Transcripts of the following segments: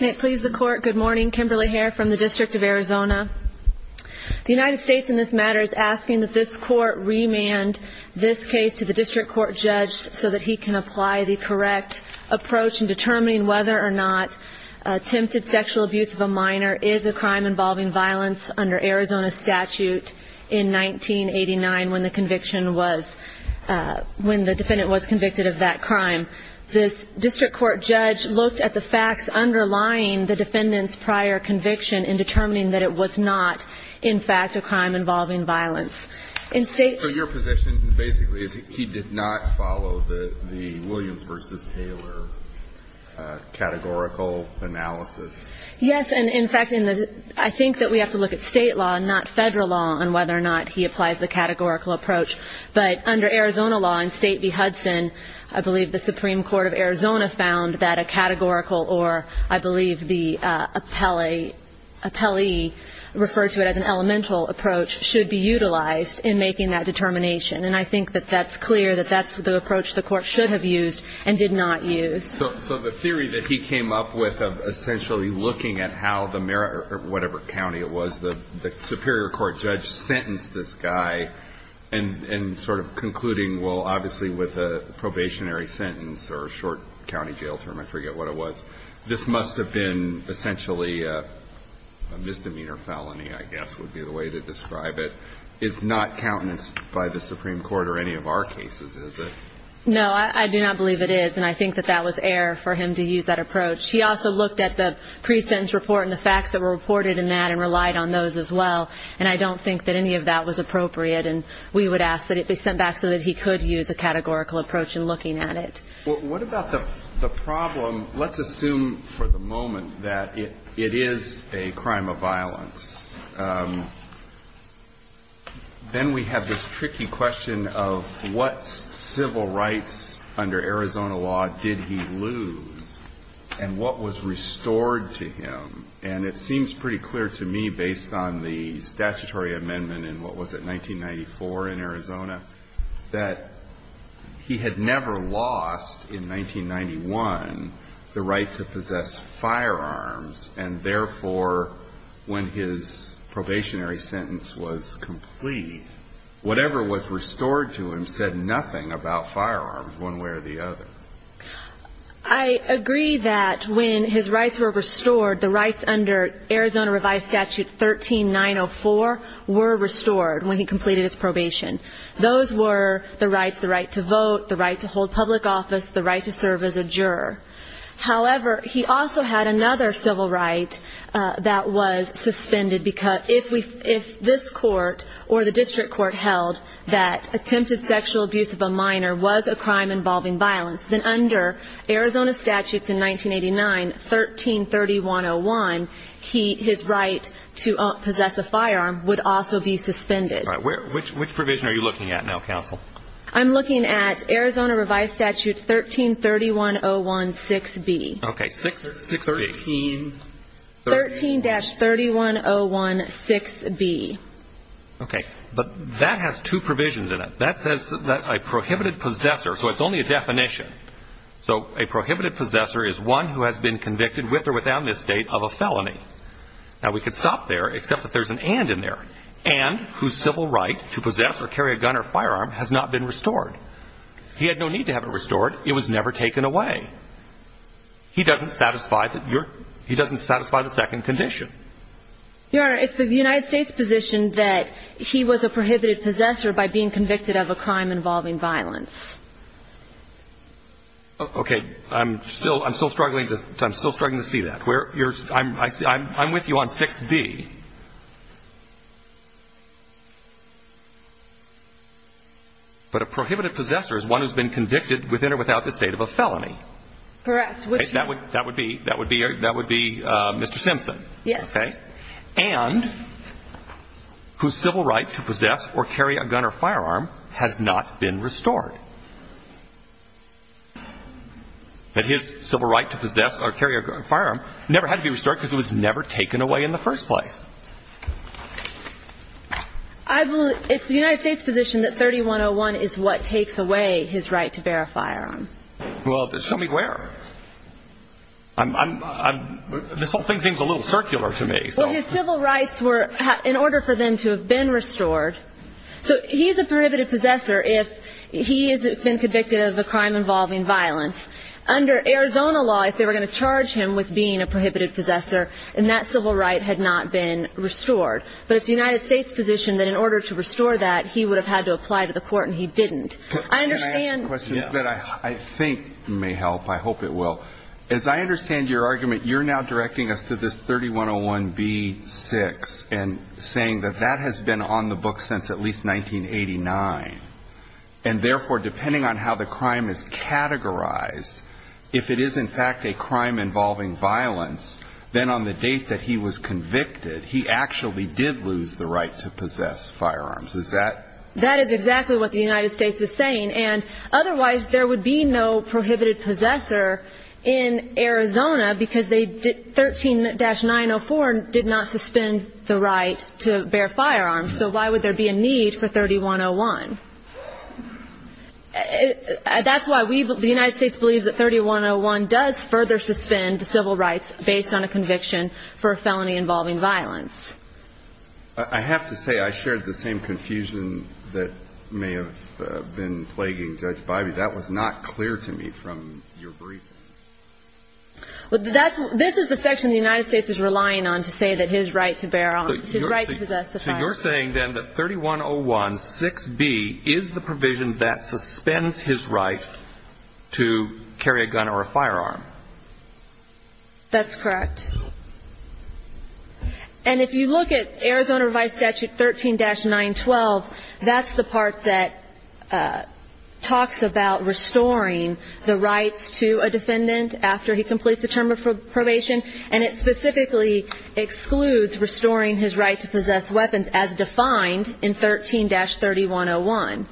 May it please the Court, good morning, Kimberly Hare from the District of Arizona. The United States in this matter is asking that this Court remand this case to the District Court Judge so that he can apply the correct approach in determining whether or not attempted sexual abuse of a minor is a crime involving violence under Arizona statute in 1989 when the defendant was convicted of that crime. This District Court Judge looked at the facts underlying the defendant's prior conviction in determining that it was not, in fact, a crime involving violence. So your position basically is that he did not follow the Williams v. Taylor categorical analysis? Yes, and in fact I think that we have to look at state law and not federal law on whether or not he applies the categorical approach. But under Arizona law in State v. Hudson, I believe the Supreme Court of Arizona found that a categorical or I believe the appellee referred to it as an elemental approach should be utilized in making that determination. And I think that that's clear, that that's the approach the Court should have used and did not use. So the theory that he came up with of essentially looking at how the whatever county it was, the superior court judge sentenced this guy and sort of concluding, well obviously with a probationary sentence or a short county jail term, I forget what it was, this must have been essentially a misdemeanor felony I guess would be the way to describe it, is not countenanced by the Supreme Court or any of our cases, is it? No, I do not believe it is, and I think that that was air for him to use that approach. He also looked at the pre-sentence report and the facts that were reported in that and relied on those as well, and I don't think that any of that was appropriate. And we would ask that it be sent back so that he could use a categorical approach in looking at it. What about the problem, let's assume for the moment that it is a crime of violence. Then we have this tricky question of what civil rights under Arizona law did he lose and what was restored to him, and it seems pretty clear to me based on the statutory amendment in what was it, 1994 in Arizona, that he had never lost in 1991 the right to possess firearms and therefore when his probationary sentence was complete, whatever was restored to him said nothing about firearms one way or the other. I agree that when his rights were restored, the rights under Arizona Revised Statute 13904 were restored when he completed his probation. Those were the rights, the right to vote, the right to hold public office, the right to serve as a juror. However, he also had another civil right that was suspended because if this court or the district court held that attempted sexual abuse of a minor was a crime involving violence, then under Arizona statutes in 1989, 133101, his right to possess a firearm would also be suspended. Which provision are you looking at now, counsel? I'm looking at Arizona Revised Statute 1331016B. Okay, 6B. 13-31016B. Okay, but that has two provisions in it. That says that a prohibited possessor, so it's only a definition. So a prohibited possessor is one who has been convicted with or without misstate of a felony. Now, we could stop there except that there's an and in there. And whose civil right to possess or carry a gun or firearm has not been restored. He had no need to have it restored. It was never taken away. He doesn't satisfy the second condition. Your Honor, it's the United States position that he was a prohibited possessor by being convicted of a crime involving violence. Okay. I'm still struggling to see that. I'm with you on 6B. But a prohibited possessor is one who has been convicted with or without the state of a felony. Correct. That would be Mr. Simpson. Yes. Okay. And whose civil right to possess or carry a gun or firearm has not been restored. That his civil right to possess or carry a firearm never had to be restored because it was never taken away in the first place. It's the United States position that 3101 is what takes away his right to bear a firearm. Well, show me where. This whole thing seems a little circular to me. Well, his civil rights were in order for them to have been restored. So he is a prohibited possessor if he has been convicted of a crime involving violence. Under Arizona law, if they were going to charge him with being a prohibited possessor, then that civil right had not been restored. But it's the United States position that in order to restore that, he would have had to apply to the court, and he didn't. Can I ask a question that I think may help? I hope it will. As I understand your argument, you're now directing us to this 3101B-6 and saying that that has been on the book since at least 1989. And, therefore, depending on how the crime is categorized, if it is, in fact, a crime involving violence, then on the date that he was convicted, he actually did lose the right to possess firearms. Is that? That is exactly what the United States is saying. And, otherwise, there would be no prohibited possessor in Arizona because 13-904 did not suspend the right to bear firearms. So why would there be a need for 3101? That's why the United States believes that 3101 does further suspend the civil rights based on a conviction for a felony involving violence. I have to say I shared the same confusion that may have been plaguing Judge Bybee. That was not clear to me from your briefing. This is the section the United States is relying on to say that his right to bear on, his right to possess a firearm. So you're saying, then, that 3101-6B is the provision that suspends his right to carry a gun or a firearm? That's correct. And if you look at Arizona Revised Statute 13-912, that's the part that talks about restoring the rights to a defendant after he completes a term of probation, and it specifically excludes restoring his right to possess weapons as defined in 13-3101.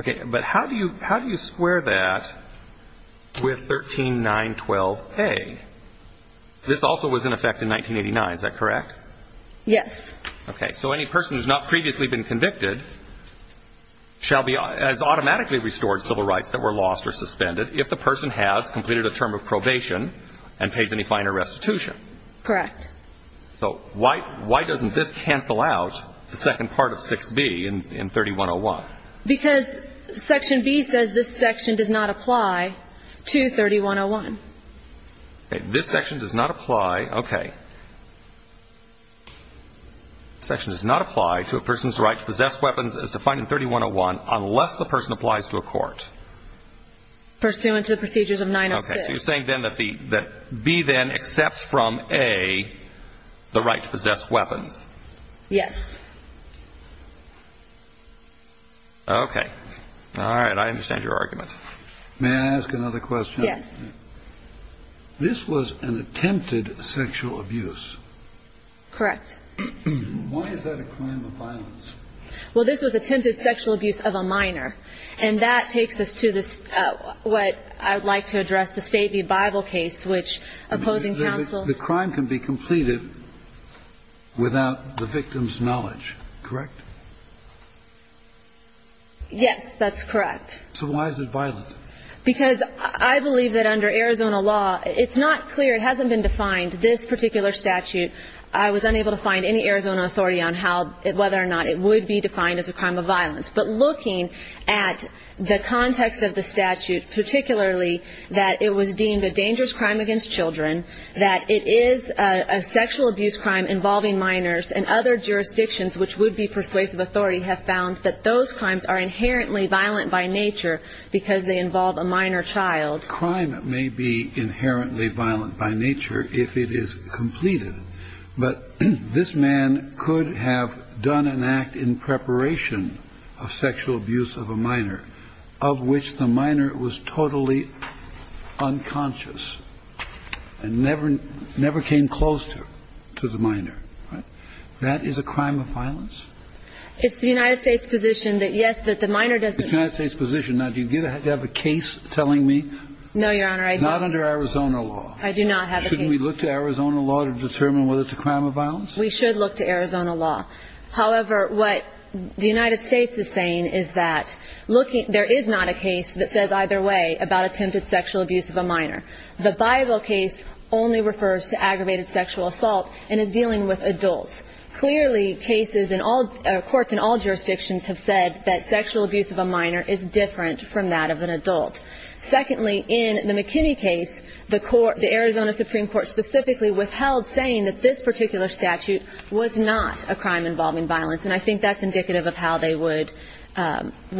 Okay. But how do you square that with 13-912-A? This also was in effect in 1989. Is that correct? Yes. Okay. So any person who has not previously been convicted shall be automatically restored civil rights that were lost or suspended if the person has completed a term of probation and pays any fine or restitution. Correct. So why doesn't this cancel out the second part of 6B in 3101? Because Section B says this section does not apply to 3101. Okay. This section does not apply. Okay. This section does not apply to a person's right to possess weapons as defined in 3101 unless the person applies to a court. Pursuant to the procedures of 906. So you're saying then that B then accepts from A the right to possess weapons. Yes. Okay. All right. I understand your argument. May I ask another question? Yes. This was an attempted sexual abuse. Correct. Why is that a crime of violence? Well, this was attempted sexual abuse of a minor, and that takes us to what I would like to address, the State v. Bible case, which opposing counsel ---- The crime can be completed without the victim's knowledge, correct? Yes, that's correct. So why is it violent? Because I believe that under Arizona law, it's not clear, it hasn't been defined, this particular statute, I was unable to find any Arizona authority on whether or not it would be defined as a crime of violence. But looking at the context of the statute, particularly that it was deemed a dangerous crime against children, that it is a sexual abuse crime involving minors, and other jurisdictions which would be persuasive authority have found that those crimes are inherently violent by nature because they involve a minor child. Crime may be inherently violent by nature if it is completed. But this man could have done an act in preparation of sexual abuse of a minor, of which the minor was totally unconscious and never came close to the minor. That is a crime of violence? It's the United States position that, yes, that the minor doesn't ---- It's the United States position. Now, do you have a case telling me? No, Your Honor, I don't. Not under Arizona law. I do not have a case. Shouldn't we look to Arizona law to determine whether it's a crime of violence? We should look to Arizona law. However, what the United States is saying is that there is not a case that says either way about attempted sexual abuse of a minor. The Bible case only refers to aggravated sexual assault and is dealing with adults. Clearly, cases in all ---- courts in all jurisdictions have said that sexual abuse of a minor is different from that of an adult. Secondly, in the McKinney case, the court, the Arizona Supreme Court, specifically withheld saying that this particular statute was not a crime involving violence, and I think that's indicative of how they would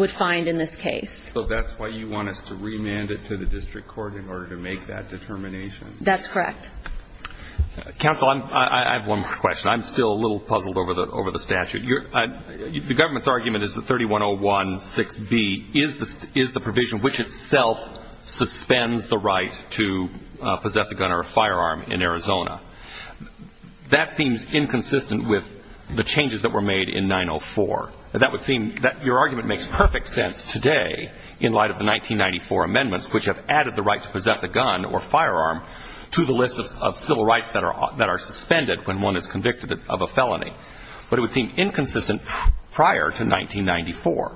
find in this case. So that's why you want us to remand it to the district court in order to make that determination? That's correct. Counsel, I have one more question. I'm still a little puzzled over the statute. The government's argument is that 3101.6b is the provision which itself suspends the right to possess a gun or a firearm in Arizona. That seems inconsistent with the changes that were made in 904. That would seem that your argument makes perfect sense today in light of the 1994 amendments, which have added the right to possess a gun or firearm to the list of civil rights that are suspended when one is convicted of a felony. But it would seem inconsistent prior to 1994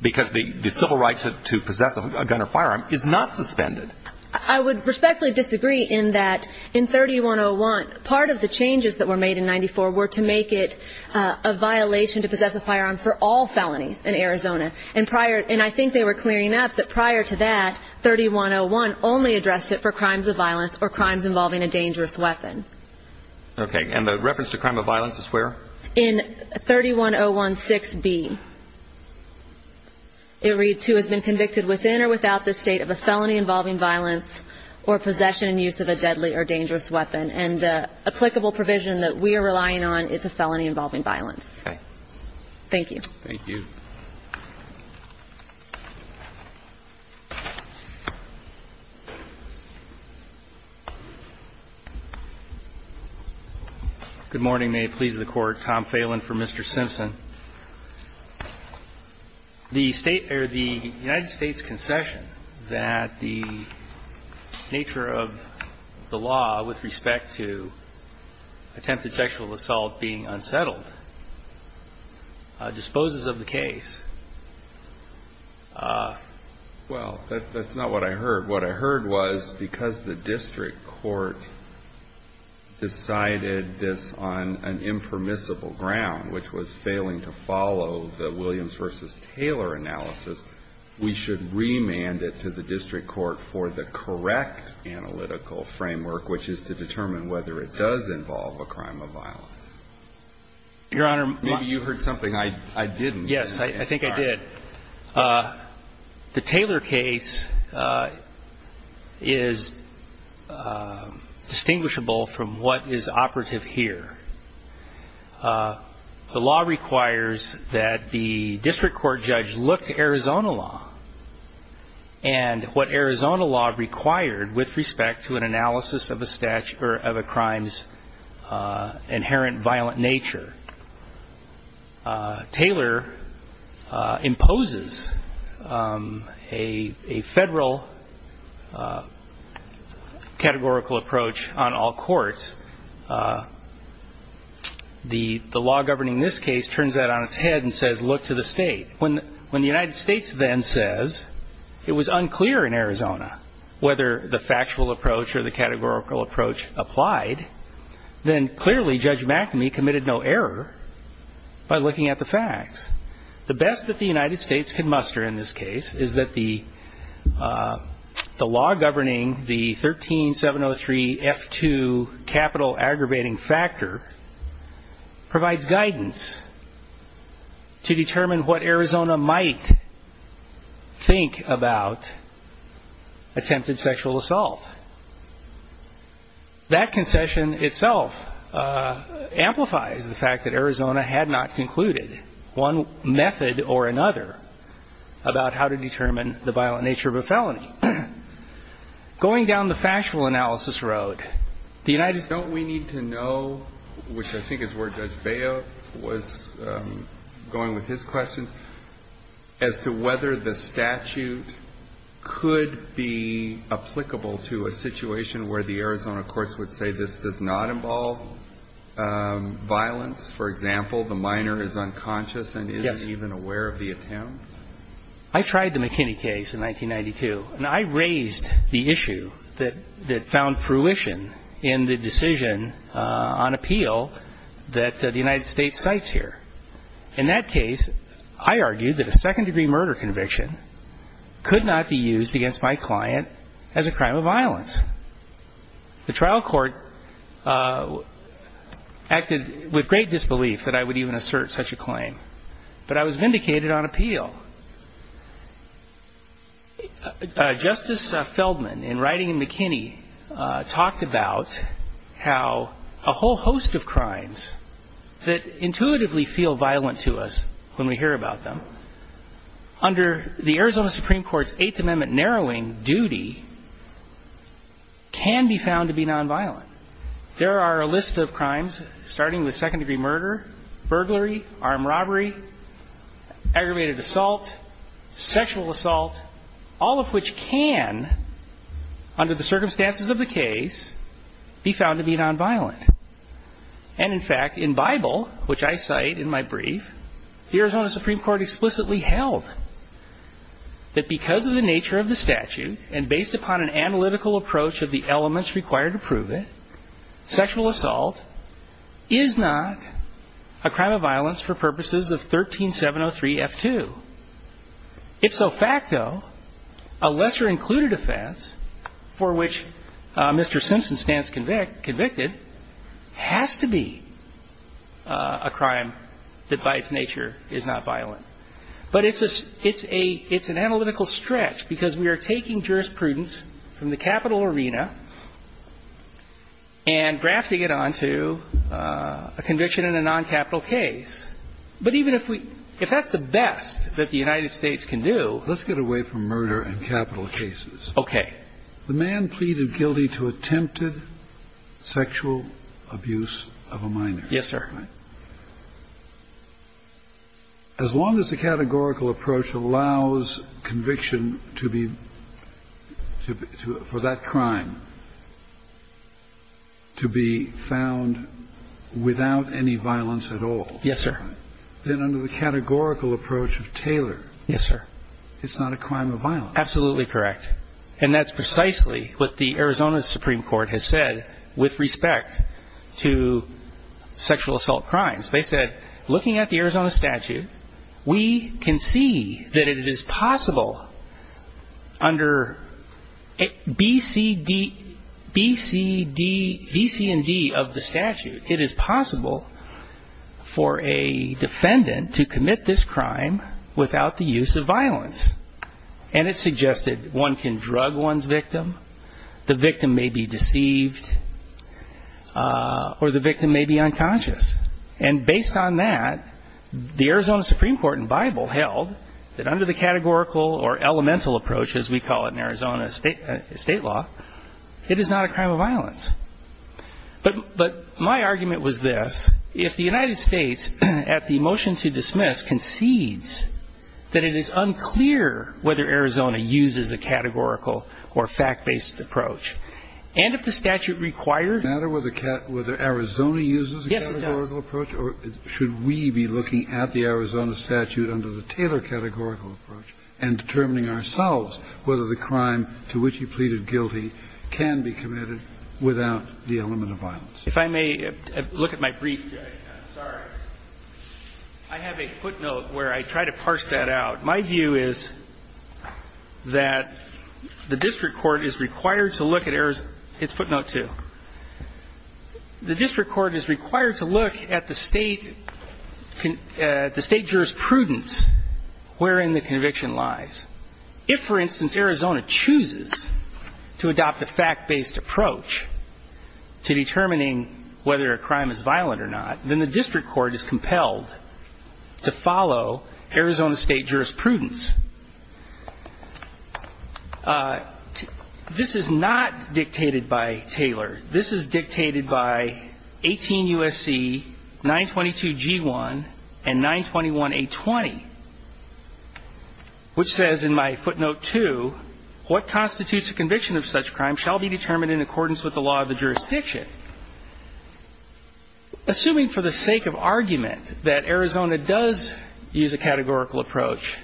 because the civil right to possess a gun or firearm is not suspended. I would respectfully disagree in that in 3101, part of the changes that were made in 94 were to make it a violation to possess a firearm for all felonies in Arizona. And I think they were clearing up that prior to that, 3101 only addressed it for crimes of violence or crimes involving a dangerous weapon. Okay. And the reference to crime of violence is where? In 3101.6b, it reads who has been convicted within or without the state of a felony involving violence or possession and use of a deadly or dangerous weapon. And the applicable provision that we are relying on is a felony involving violence. Okay. Thank you. Thank you. Good morning. May it please the Court. Tom Phelan for Mr. Simpson. The United States concession that the nature of the law with respect to attempted sexual assault being unsettled disposes of the case. Well, that's not what I heard. What I heard was because the district court decided this on an impermissible ground, which was failing to follow the Williams v. Taylor analysis, we should remand it to the district court for the correct analytical framework, which is to determine whether it does involve a crime of violence. Your Honor, my ---- Maybe you heard something I didn't. Yes, I think I did. The Taylor case is distinguishable from what is operative here. The law requires that the district court judge look to Arizona law and what Arizona law required with respect to an analysis of a crime's inherent violent nature. Taylor imposes a federal categorical approach on all courts. The law governing this case turns that on its head and says look to the state. When the United States then says it was unclear in Arizona whether the factual approach or the categorical approach applied, then clearly Judge McNamee committed no error by looking at the facts. The best that the United States can muster in this case is that the law governing the 13703F2 capital aggravating factor provides guidance to determine what Arizona might think about attempted sexual assault. That concession itself amplifies the fact that Arizona had not concluded one method or another about how to determine the violent nature of a felony. Going down the factual analysis road, the United States ---- Don't we need to know, which I think is where Judge Baya was going with his questions, as to whether the statute could be applicable to a situation where the Arizona courts would say this does not involve violence? For example, the minor is unconscious and isn't even aware of the attempt? Yes. I tried the McKinney case in 1992, and I raised the issue that found fruition in the decision on appeal that the United States cites here. In that case, I argued that a second-degree murder conviction could not be used against my client as a crime of violence. The trial court acted with great disbelief that I would even assert such a claim, but I was vindicated on appeal. Justice Feldman, in writing in McKinney, talked about how a whole host of crimes that intuitively feel violent to us when we hear about them, under the Arizona Supreme Court's Eighth Amendment narrowing duty can be found to be nonviolent. There are a list of crimes, starting with second-degree murder, burglary, armed robbery, aggravated assault, sexual assault, all of which can, under the circumstances of the case, be found to be nonviolent. And, in fact, in Bible, which I cite in my brief, the Arizona Supreme Court explicitly held that because of the nature of the statute and based upon an analytical approach of the elements required to prove it, sexual assault is not a crime of violence for purposes of 13703F2. Ifso facto, a lesser-included offense for which Mr. Simpson stands convicted has to be a crime that by its nature is not violent. But it's a – it's a – it's an analytical stretch because we are taking jurisprudence from the capital arena and grafting it onto a conviction in a noncapital case. But even if we – if that's the best that the United States can do – Let's get away from murder and capital cases. Okay. The man pleaded guilty to attempted sexual abuse of a minor. Yes, sir. As long as the categorical approach allows conviction to be – to – for that crime to be found without any violence at all. Yes, sir. Then under the categorical approach of Taylor. Yes, sir. It's not a crime of violence. Absolutely correct. And that's precisely what the Arizona Supreme Court has said with respect to sexual assault crimes. They said, looking at the Arizona statute, we can see that it is possible under BCD – for a defendant to commit this crime without the use of violence. And it suggested one can drug one's victim, the victim may be deceived, or the victim may be unconscious. And based on that, the Arizona Supreme Court in Bible held that under the categorical or elemental approach, as we call it in Arizona state law, it is not a crime of violence. But my argument was this. If the United States at the motion to dismiss concedes that it is unclear whether Arizona uses a categorical or fact-based approach, and if the statute requires Does it matter whether Arizona uses a categorical approach? Yes, it does. Or should we be looking at the Arizona statute under the Taylor categorical approach and determining ourselves whether the crime to which he pleaded guilty can be committed without the element of violence? If I may look at my brief. Sorry. I have a footnote where I try to parse that out. My view is that the district court is required to look at Arizona – it's footnote two. The district court is required to look at the state jurisprudence wherein the conviction lies. If, for instance, Arizona chooses to adopt a fact-based approach to determining whether a crime is violent or not, then the district court is compelled to follow Arizona state jurisprudence. And I'm going to quote from my footnote here. This is dictated by 18 U.S.C. 922 G1 and 921 A20, which says in my footnote two, what constitutes a conviction of such crime shall be determined in accordance with the law of the jurisdiction. Assuming for the sake of argument that Arizona does use a categorical approach,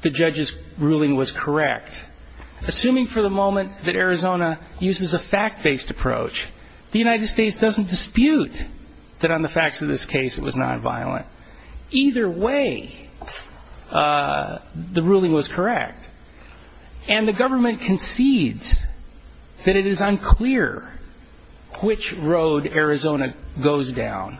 the judge's ruling was correct. Assuming for the moment that Arizona uses a fact-based approach, the United States doesn't dispute that on the facts of this case it was nonviolent. Either way, the ruling was correct. And the government concedes that it is unclear which road Arizona goes down.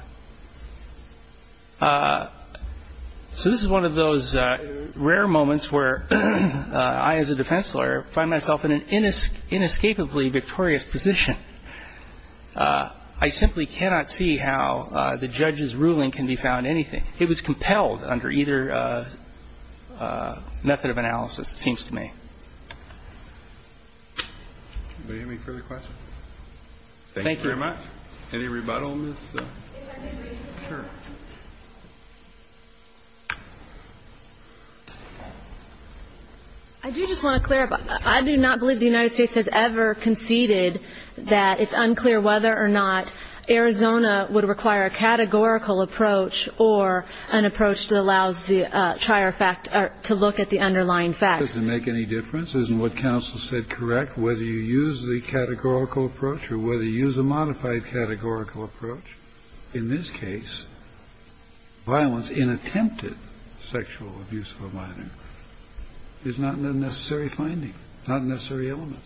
So this is one of those rare moments where I, as a defense lawyer, find myself in an inescapably victorious position. I simply cannot see how the judge's ruling can be found anything. It was compelled under either method of analysis, it seems to me. Do you have any further questions? Thank you very much. Any rebuttal, Ms. Kerr? I do just want to clarify. I do not believe the United States has ever conceded that it's unclear whether or not Arizona would require a categorical approach or an approach that allows the trier fact to look at the underlying facts. Does it make any difference? Isn't what counsel said correct? Whether you use the categorical approach or whether you use a modified categorical approach, in this case, violence in attempted sexual abuse of a minor is not an unnecessary finding, not a necessary element.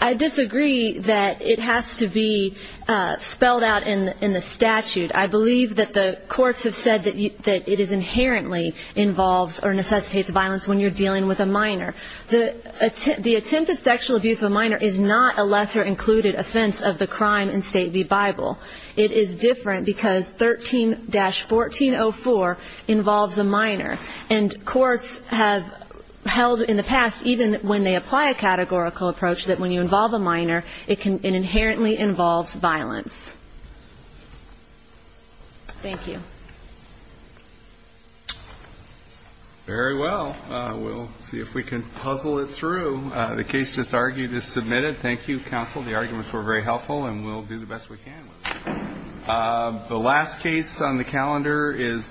I disagree that it has to be spelled out in the statute. I believe that the courts have said that it is inherently involves or necessitates violence when you're dealing with a minor. The attempted sexual abuse of a minor is not a lesser included offense of the crime in State v. Bible. It is different because 13-1404 involves a minor. And courts have held in the past, even when they apply a categorical approach, that when you involve a minor, it inherently involves violence. Thank you. Very well. We'll see if we can puzzle it through. The case just argued is submitted. Thank you, counsel. The arguments were very helpful. And we'll do the best we can with it. The last case on the calendar is 17-17.